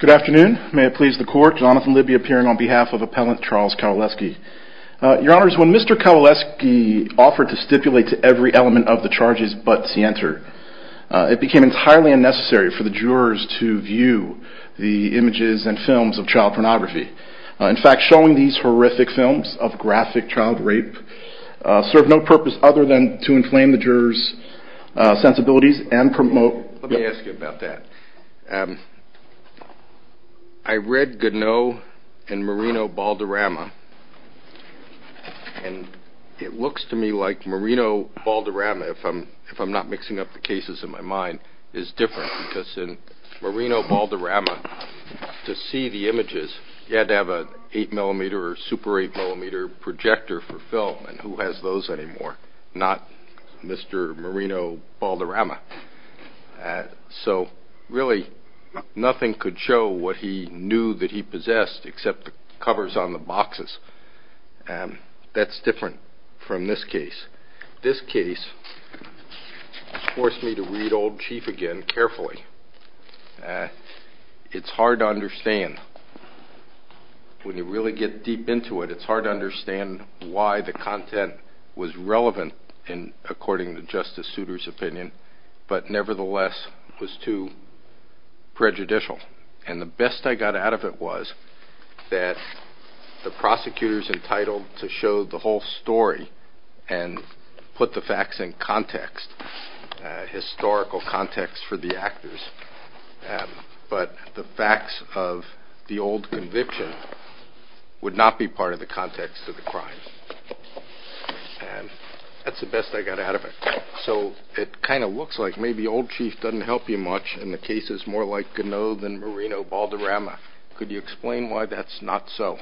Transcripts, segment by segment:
Good afternoon. May it please the court, Jonathan Libby appearing on behalf of Appellant Charles Kowaleski. Your Honours, when Mr. Kowaleski offered to stipulate to every element of the charges but Sienter, it became entirely unnecessary for the jurors to view the images and films of child pornography. In fact, showing these horrific films of graphic child rape served no purpose other than to inflame the jurors sensibilities and promote... Let me ask you about that. I read Goudenot and Marino Balderrama and it looks to me like Marino Balderrama, if I'm not mixing up the cases in my mind, is different because in Marino Balderrama to see the images you had to have an 8mm or super 8mm projector for film and who has those anymore, not Mr. Marino Balderrama. So really nothing could show what he knew that he possessed except the covers on the boxes. That's different from this case. This case forced me to read Old Chief again carefully. It's hard to understand. When you really get deep into it, it's hard to understand why the content was relevant according to Justice Souter's opinion but nevertheless was too prejudicial. And the best I got out of it was that the prosecutor is entitled to show the whole story and put the facts in context, historical context for the actors, but the facts of the old conviction would not be part of the context of the crime. That's the best I got out of it. So it kind of looks like maybe Old Chief doesn't help you much in the cases more like Goudenot than Marino Balderrama. Could you explain why that's not so?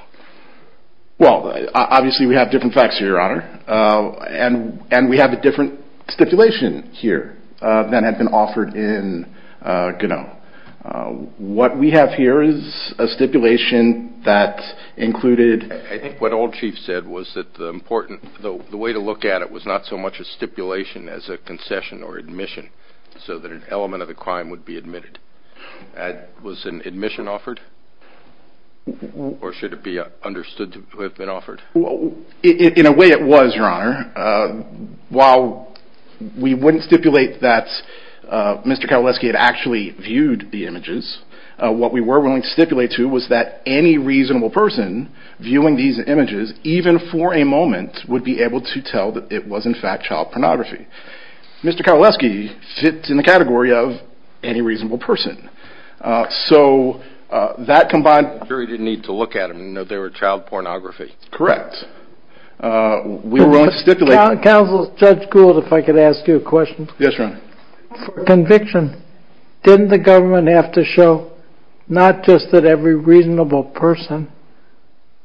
Well, obviously we have different facts here, Your Honor, and we have a different stipulation here that had been offered in Goudenot. What we have here is a stipulation that included... I think what Old Chief said was that the way to look at it was not so much a stipulation as a concession or admission so that an element of the crime would be admitted. Was an admission offered? Or should it be understood to have been offered? In a way it was, Your Honor. While we wouldn't stipulate that Mr. Kowalewski had actually viewed the images, what we were willing to stipulate to was that any reasonable person viewing these images, even for a moment, would be able to tell that it was in fact child pornography. Mr. Kowalewski fits in the category of any reasonable person. So that combined... Counsel, Judge Gould, if I could ask you a question. Yes, Your Honor. For conviction, didn't the government have to show not just that every reasonable person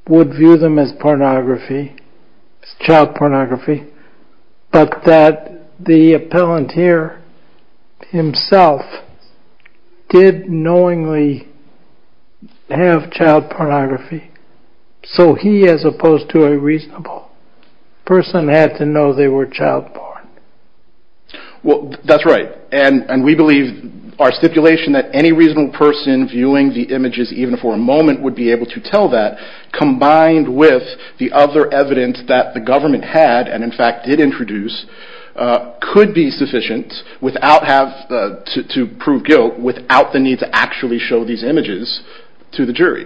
would view them as pornography, child pornography, but that the appellant here himself did knowingly have child pornography? So he, as opposed to a reasonable person, had to know they were child porn. Well, that's right. And we believe our stipulation that any reasonable person viewing the images, even for a moment, would be able to tell that, combined with the other evidence that the government had, and in fact did introduce, could be sufficient to prove guilt without the need to actually show these images to the jury.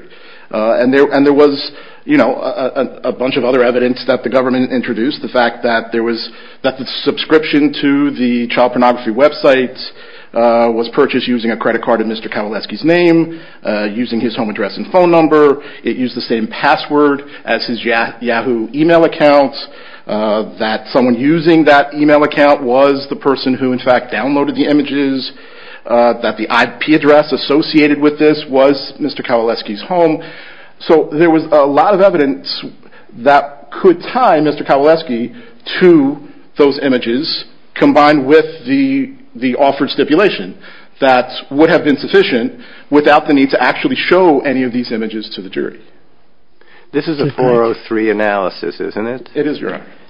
And there was a bunch of other evidence that the government introduced, the fact that the subscription to the child pornography website was purchased using a credit card of Mr. Kowalewski's name, using his home address and phone number, it used the same password as his Yahoo email account, that someone using that email account was the person who in fact downloaded the images, that the IP address associated with this was Mr. Kowalewski's home. So there was a lot of evidence that could tie Mr. Kowalewski to those images, combined with the offered stipulation, that would have been sufficient without the need to actually show any of these images to the jury.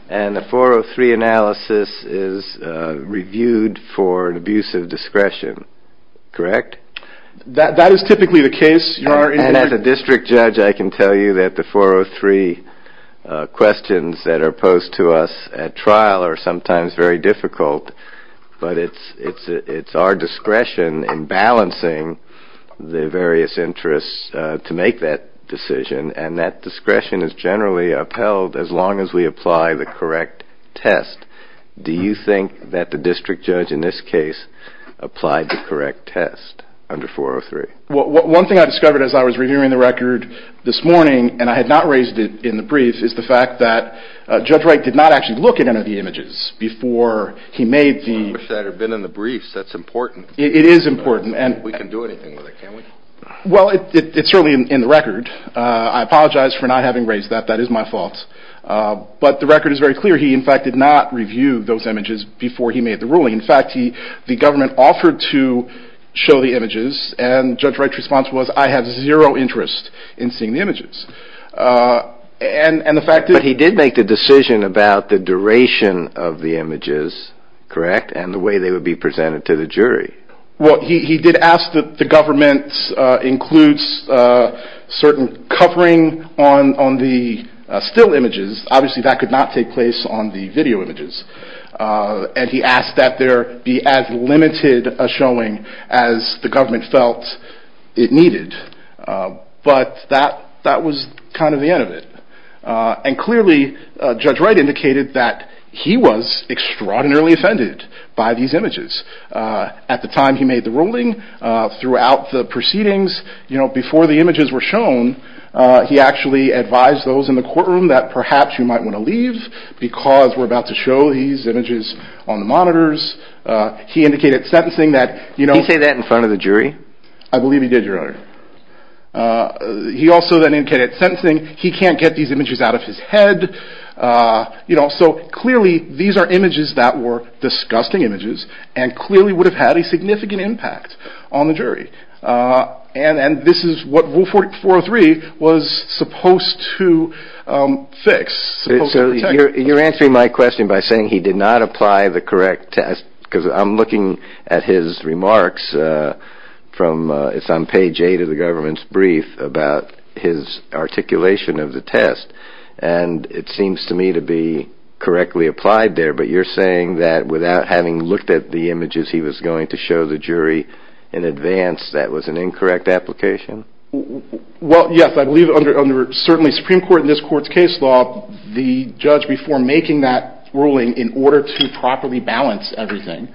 And that analysis is reviewed for an abuse of discretion, correct? That is typically the case. And as a district judge, I can tell you that the 403 questions that are posed to us at trial are sometimes very difficult, but it's our discretion in balancing the various interests to make that decision, and that discretion is generally upheld as long as we apply the correct test. Do you think that the district judge in this case applied the correct test under 403? One thing I discovered as I was reviewing the record this morning, and I had not raised it in the brief, is the fact that Judge Wright did not actually look at any of the images before he made the... I wish that had been in the briefs, that's important. It is important, and... We can do anything with it, can't we? Well, it's certainly in the record. I apologize for not having raised that, that is my fault. But the record is very clear, he in fact did not review those images before he made the ruling. In fact, the government offered to show the images, and Judge Wright's response was, I have zero interest in seeing the images. And the fact is... But he did make the decision about the duration of the images, correct? And the way they would be presented to the jury. Well, he did ask that the government include certain covering on the still images, obviously that could not take place on the video images. And he asked that there be as limited a showing as the government felt it needed. But that was kind of the end of it. And clearly, Judge Wright indicated that he was extraordinarily offended by these images at the time he made the ruling, throughout the proceedings, before the images were shown, he actually advised those in the courtroom that perhaps you might want to leave, because we're about to show these images on the monitors. He indicated at sentencing that... Did he say that in front of the jury? I believe he did, Your Honor. He also then indicated at sentencing, he can't get these images out of his head. So clearly, these are images that were disgusting images, and clearly would have had a significant impact on the jury. And this is what Rule 403 was supposed to fix. So you're answering my question by saying he did not apply the correct test, because I'm looking at his remarks from... It's on page 8 of the government's brief about his articulation of the test. And it seems to me to be correctly applied there, but you're saying that without having looked at the images he was going to show the jury in advance, that was an incorrect application? Well, yes, I believe under, certainly, Supreme Court in this court's case law, the judge, before making that ruling, in order to properly balance everything,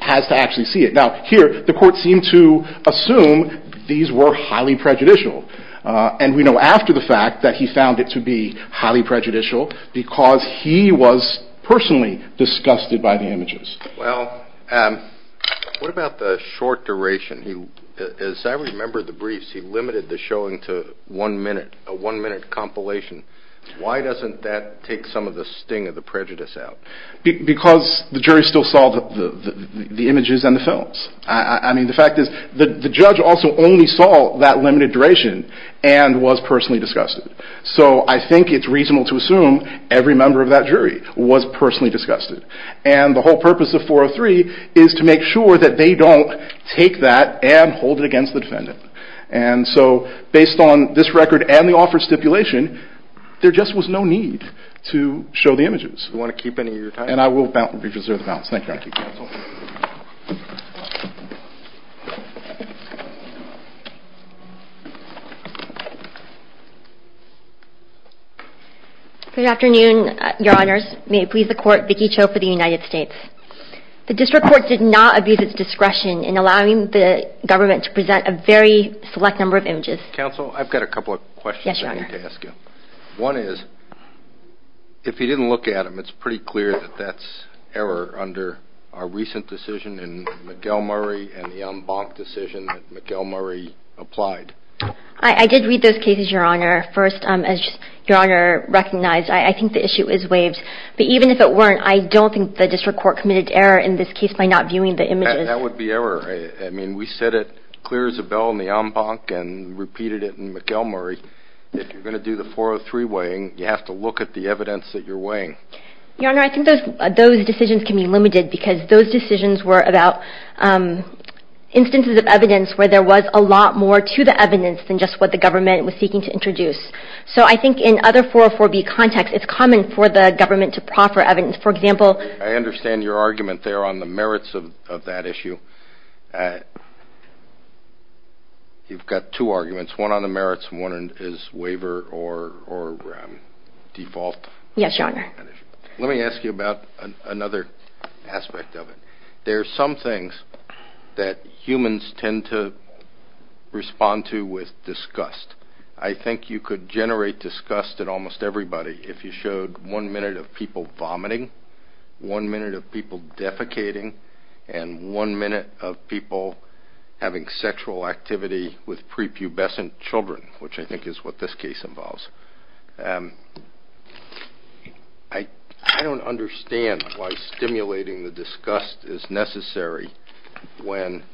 has to actually see it. Now, here, the court seemed to assume these were highly prejudicial. And we know after the fact that he found it to be highly prejudicial, because he was personally disgusted by the images. Well, what about the short duration? As I remember the briefs, he limited the showing to one minute, a one minute compilation. Why doesn't that take some of the sting of the prejudice out? Because the jury still saw the images and the films. I mean, the fact is the judge also only saw that limited duration and was personally disgusted. So I think it's reasonable to assume every member of that jury was personally disgusted. And the whole purpose of 403 is to make sure that they don't take that and hold it against the defendant. And so based on this record and the offer stipulation, there just was no need to show the images. And I will reserve the balance. Thank you, counsel. Good afternoon, your honors. May it please the court, Vicki Cho for the United States. The district court did not abuse its discretion in allowing the government to present a very select number of images. Counsel, I've got a couple of questions I need to ask you. One is, if you didn't look at them, it's pretty clear that that's error under our recent decision in Miguel Murray and the en banc decision that Miguel Murray applied. I did read those cases, your honor. First, as your honor recognized, I think the issue is waived. But even if it weren't, I don't think the district court committed error in this case by not viewing the images. That would be error. I mean, we said it clear as a bell in the en banc and repeated it in Miguel Murray. If you're going to do the 403 weighing, you have to look at the evidence that you're weighing. Your honor, I think those decisions can be limited because those decisions were about instances of evidence where there was a lot more to the evidence than just what the government was seeking to introduce. So I think in other 404b context, it's common for the government to proffer evidence. I understand your argument there on the merits of that issue. You've got two arguments, one on the merits and one is waiver or default. Yes, your honor. Let me ask you about another aspect of it. There are some things that humans tend to respond to with disgust. I think you could generate disgust in almost everybody if you showed one minute of people vomiting, one minute of people defecating, and one minute of people having sexual activity with prepubescent children, which I think is what this case involves. I don't understand why stimulating the disgust is necessary when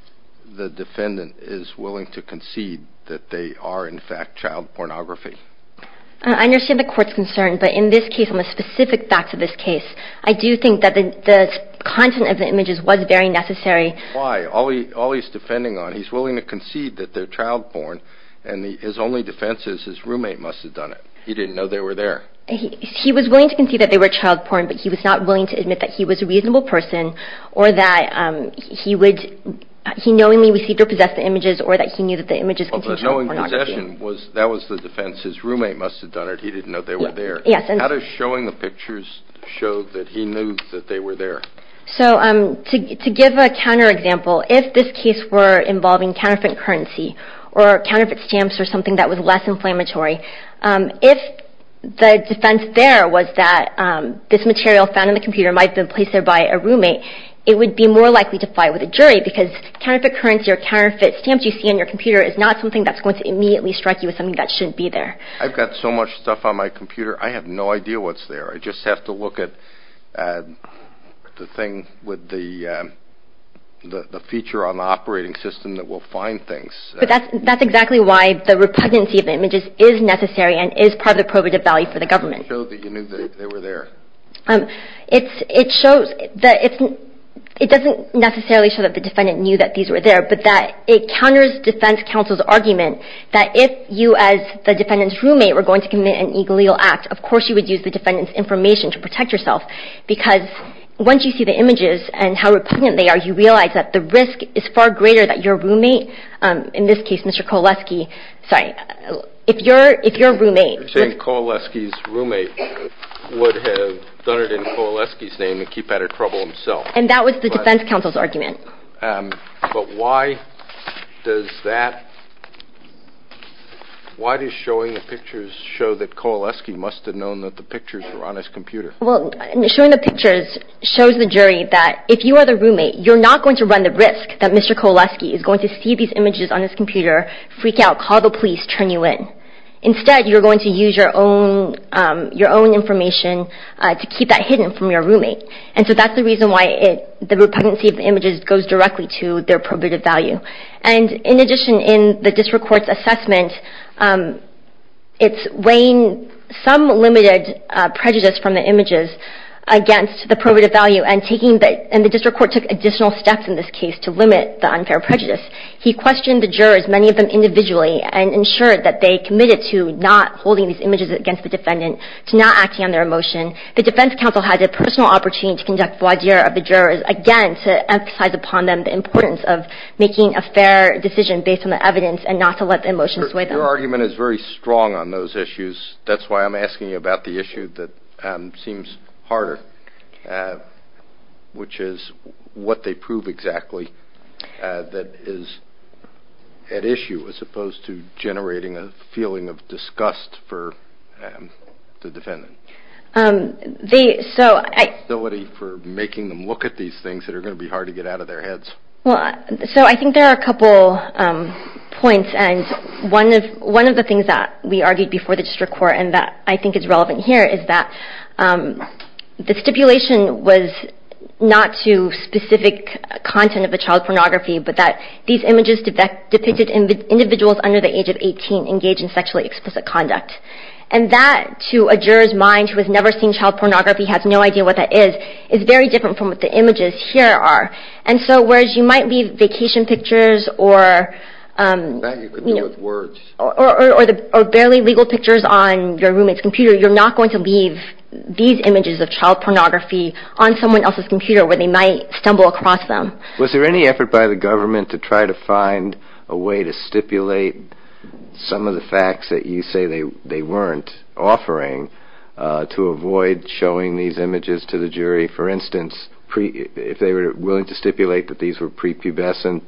the defendant is willing to concede that they are in fact child pornography. I understand the court's concern, but in this case, on the specific facts of this case, I do think that the content of the images was very necessary. Why? All he's defending on, he's willing to concede that they're child porn and his only defense is his roommate must have done it. He didn't know they were there. He was willing to concede that they were child porn, but he was not willing to admit that he was a reasonable person or that he knowingly received or possessed the images or that he knew that the images contained child pornography. But knowing possession, that was the defense. His roommate must have done it. He didn't know they were there. Yes. How does showing the pictures show that he knew that they were there? To give a counterexample, if this case were involving counterfeit currency or counterfeit stamps or something that was less inflammatory, if the defense there was that this material found in the computer might have been placed there by a roommate, it would be more likely to fight with a jury because counterfeit currency or counterfeit stamps you see on your computer is not something that's going to immediately strike you as something that shouldn't be there. I've got so much stuff on my computer, I have no idea what's there. I just have to look at the thing with the feature on the operating system that will find things. But that's exactly why the repugnancy of images is necessary and is part of the probative value for the government. It doesn't show that you knew they were there. It doesn't necessarily show that the defendant knew that these were there, but that it counters defense counsel's argument that if you as the defendant's roommate were going to commit an illegal act, of course you would use the defendant's information to protect yourself because once you see the images and how repugnant they are, you realize that the risk is far greater that your roommate, in this case Mr. Kowalski, sorry, if your roommate... You're saying Kowalski's roommate would have done it in Kowalski's name and keep out of trouble himself. And that was the defense counsel's argument. But why does that... Why does showing the pictures show that Kowalski must have known that the pictures were on his computer? Well, showing the pictures shows the jury that if you are the roommate, you're not going to run the risk that Mr. Kowalski is going to see these images on his computer, freak out, call the police, turn you in. Instead, you're going to use your own information to keep that hidden from your roommate. And so that's the reason why the repugnancy of the images goes directly to their probative value. And in addition, in the district court's assessment, it's weighing some limited prejudice from the images against the probative value and the district court took additional steps in this case to limit the unfair prejudice. He questioned the jurors, many of them individually, and ensured that they committed to not holding these images against the defendant, to not acting on their emotion. The defense counsel had the personal opportunity to conduct a void year of the jurors, again to emphasize upon them the importance of making a fair decision based on the evidence and not to let the emotion sway them. Your argument is very strong on those issues. That's why I'm asking you about the issue that seems harder, which is what they prove exactly that is at issue as opposed to generating a feeling of disgust for the defendant. So I think there are a couple points, and one of the things that we argued before the district court and that I think is relevant here is that the stipulation was not to specific content of a child pornography, but that these images depicted individuals under the age of 18 engaged in sexually explicit conduct. And that to a juror's mind who has never seen child pornography, has no idea what that is, is very different from what the images here are. And so whereas you might leave vacation pictures or barely legal pictures on your roommate's computer, you're not going to leave these images of child pornography on someone else's computer where they might stumble across them. Was there any effort by the government to try to find a way to stipulate some of the facts that you say they weren't offering to avoid showing these images to the jury? For instance, if they were willing to stipulate that these were prepubescent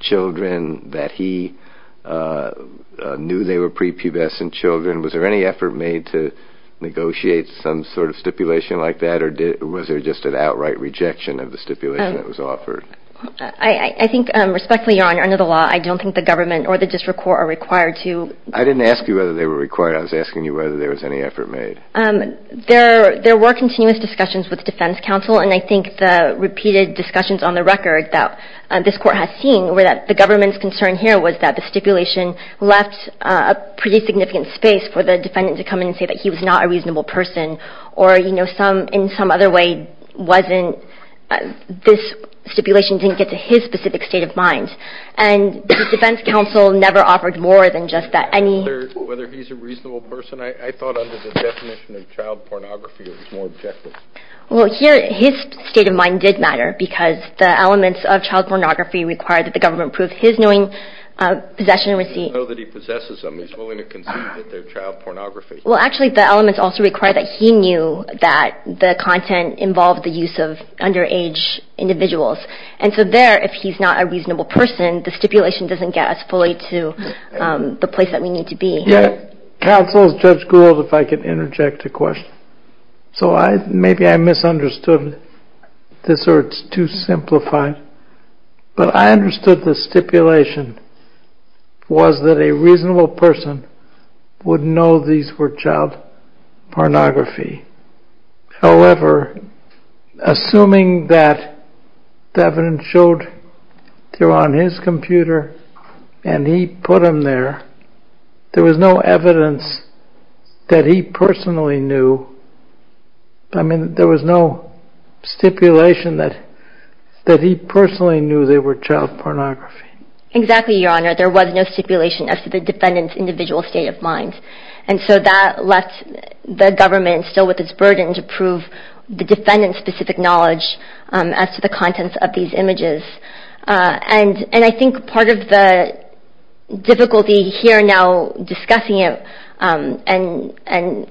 children, that he knew they were prepubescent children, was there any effort made to negotiate some sort of stipulation like that, or was there just an outright rejection of the stipulation that was offered? I think respectfully, Your Honor, under the law, I don't think the government or the district court are required to. I didn't ask you whether they were required. I was asking you whether there was any effort made. There were continuous discussions with the defense counsel, and I think the repeated discussions on the record that this court has seen were that the government's concern here was that the stipulation left a pretty significant space for the defendant to come in and say that he was not a reasonable person, or in some other way this stipulation didn't get to his specific state of mind. And the defense counsel never offered more than just that. Whether he's a reasonable person? I thought under the definition of child pornography it was more objective. Well, here his state of mind did matter, because the elements of child pornography required that the government prove his knowing of possession and receipt. So that he possesses them. He's willing to concede that they're child pornography. Well, actually, the elements also require that he knew that the content involved the use of underage individuals. And so there, if he's not a reasonable person, the stipulation doesn't get us fully to the place that we need to be. Counsel, Judge Gould, if I could interject a question. So maybe I misunderstood this, or it's too simplified. But I understood the stipulation was that a reasonable person would know these were child pornography. However, assuming that the evidence showed they were on his computer, and he put them there, there was no evidence that he personally knew. I mean, there was no stipulation that he personally knew they were child pornography. Exactly, Your Honor. There was no stipulation as to the defendant's individual state of mind. And so that left the government still with its burden to prove the defendant's specific knowledge as to the contents of these images. And I think part of the difficulty here now discussing it and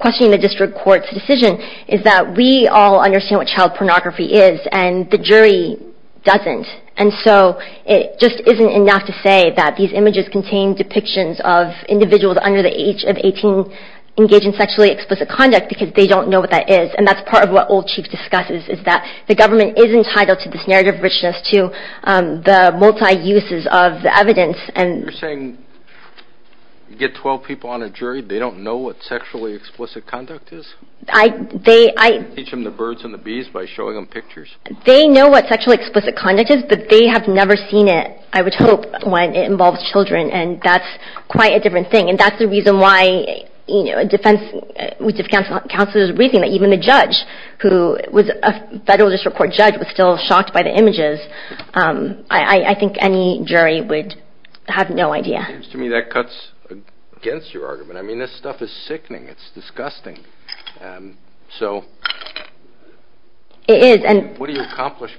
questioning the district court's decision is that we all understand what child pornography is, and the jury doesn't. And so it just isn't enough to say that these images contain depictions of individuals under the age of 18 engaged in sexually explicit conduct, because they don't know what that is. And that's part of what Old Chiefs discusses, is that the government is entitled to this narrative richness, to the multi-uses of the evidence. You're saying you get 12 people on a jury, they don't know what sexually explicit conduct is? I teach them the birds and the bees by showing them pictures. They know what sexually explicit conduct is, but they have never seen it, I would hope, when it involves children, and that's quite a different thing. And that's the reason why a defense counsel is reasoning that even a judge who was a federal district court judge was still shocked by the images. I think any jury would have no idea. It seems to me that cuts against your argument. I mean, this stuff is sickening. It's disgusting. It is. What do you accomplish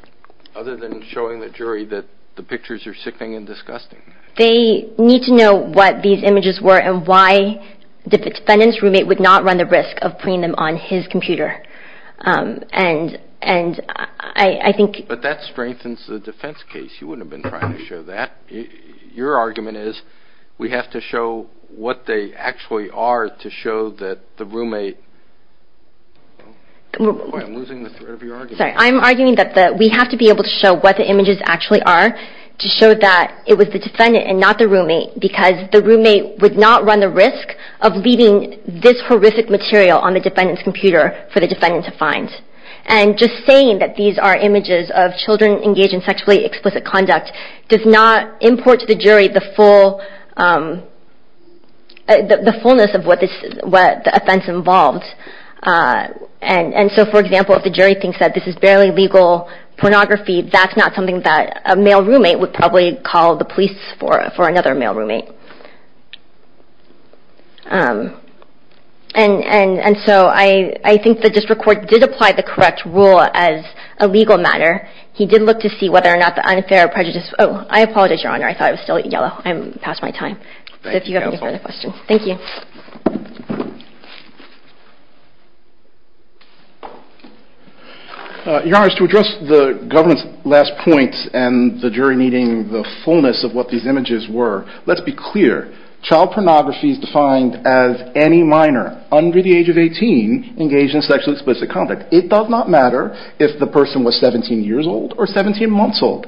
other than showing the jury that the pictures are sickening and disgusting? They need to know what these images were and why the defendant's roommate would not run the risk of putting them on his computer. But that strengthens the defense case. You wouldn't have been trying to show that. Your argument is we have to show what they actually are to show that the roommate... I'm arguing that we have to be able to show what the images actually are to show that it was the defendant and not the roommate because the roommate would not run the risk of leaving this horrific material on the defendant's computer for the defendant to find. And just saying that these are images of children engaged in sexually explicit conduct does not import to the jury the fullness of what the offense involved. And so, for example, if the jury thinks that this is barely legal pornography, that's not something that a male roommate would probably call the police for another male roommate. And so I think the district court did apply the correct rule as a legal matter. He did look to see whether or not the unfair prejudice... Oh, I apologize, Your Honor. I thought I was still at yellow. I'm past my time. So if you have any further questions. Thank you. Your Honor, to address the government's last point and the jury needing the fullness of what these images were, let's be clear. Child pornography is defined as any minor under the age of 18 engaged in sexually explicit conduct. It does not matter if the person was 17 years old or 17 months old.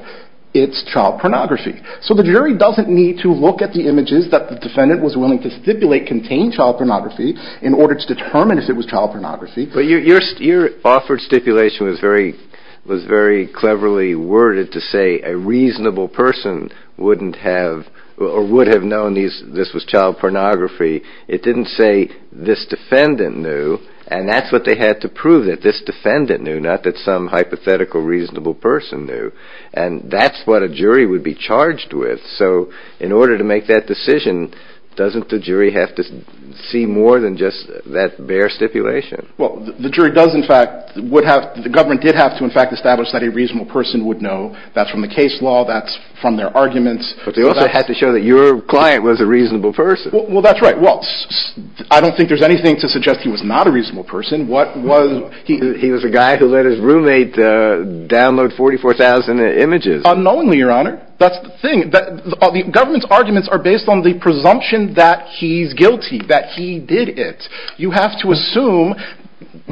It's child pornography. So the jury doesn't need to look at the images that the defendant was willing to stipulate contained child pornography in order to determine if it was child pornography. But your offered stipulation was very cleverly worded to say a reasonable person wouldn't have or would have known this was child pornography. It didn't say this defendant knew. And that's what they had to prove, that this defendant knew, not that some hypothetical reasonable person knew. And that's what a jury would be charged with. So in order to make that decision, doesn't the jury have to see more than just that bare stipulation? Well, the jury does, in fact, would have... The government did have to, in fact, establish that a reasonable person would know. That's from the case law. That's from their arguments. But they also had to show that your client was a reasonable person. Well, that's right. Well, I don't think there's anything to suggest he was not a reasonable person. He was a guy who let his roommate download 44,000 images. Unknowingly, Your Honor. That's the thing. The government's arguments are based on the presumption that he's guilty, that he did it. You have to assume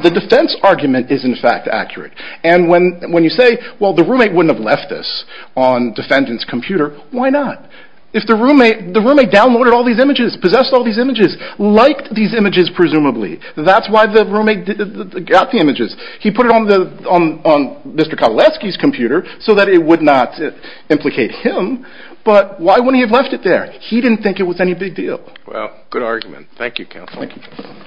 the defense argument is, in fact, accurate. And when you say, well, the roommate wouldn't have left this on the defendant's computer, why not? If the roommate downloaded all these images, possessed all these images, liked these images presumably, that's why the roommate got the images. He put it on Mr. Kowalewski's computer so that it would not implicate him. But why wouldn't he have left it there? He didn't think it was any big deal. Well, good argument. Thank you, Counsel. Thank you. Thank you.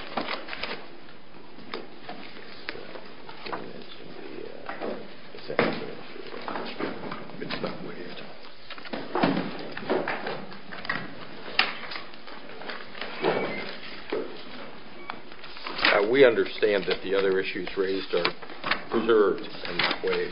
We understand that the other issues raised are preserved in that way.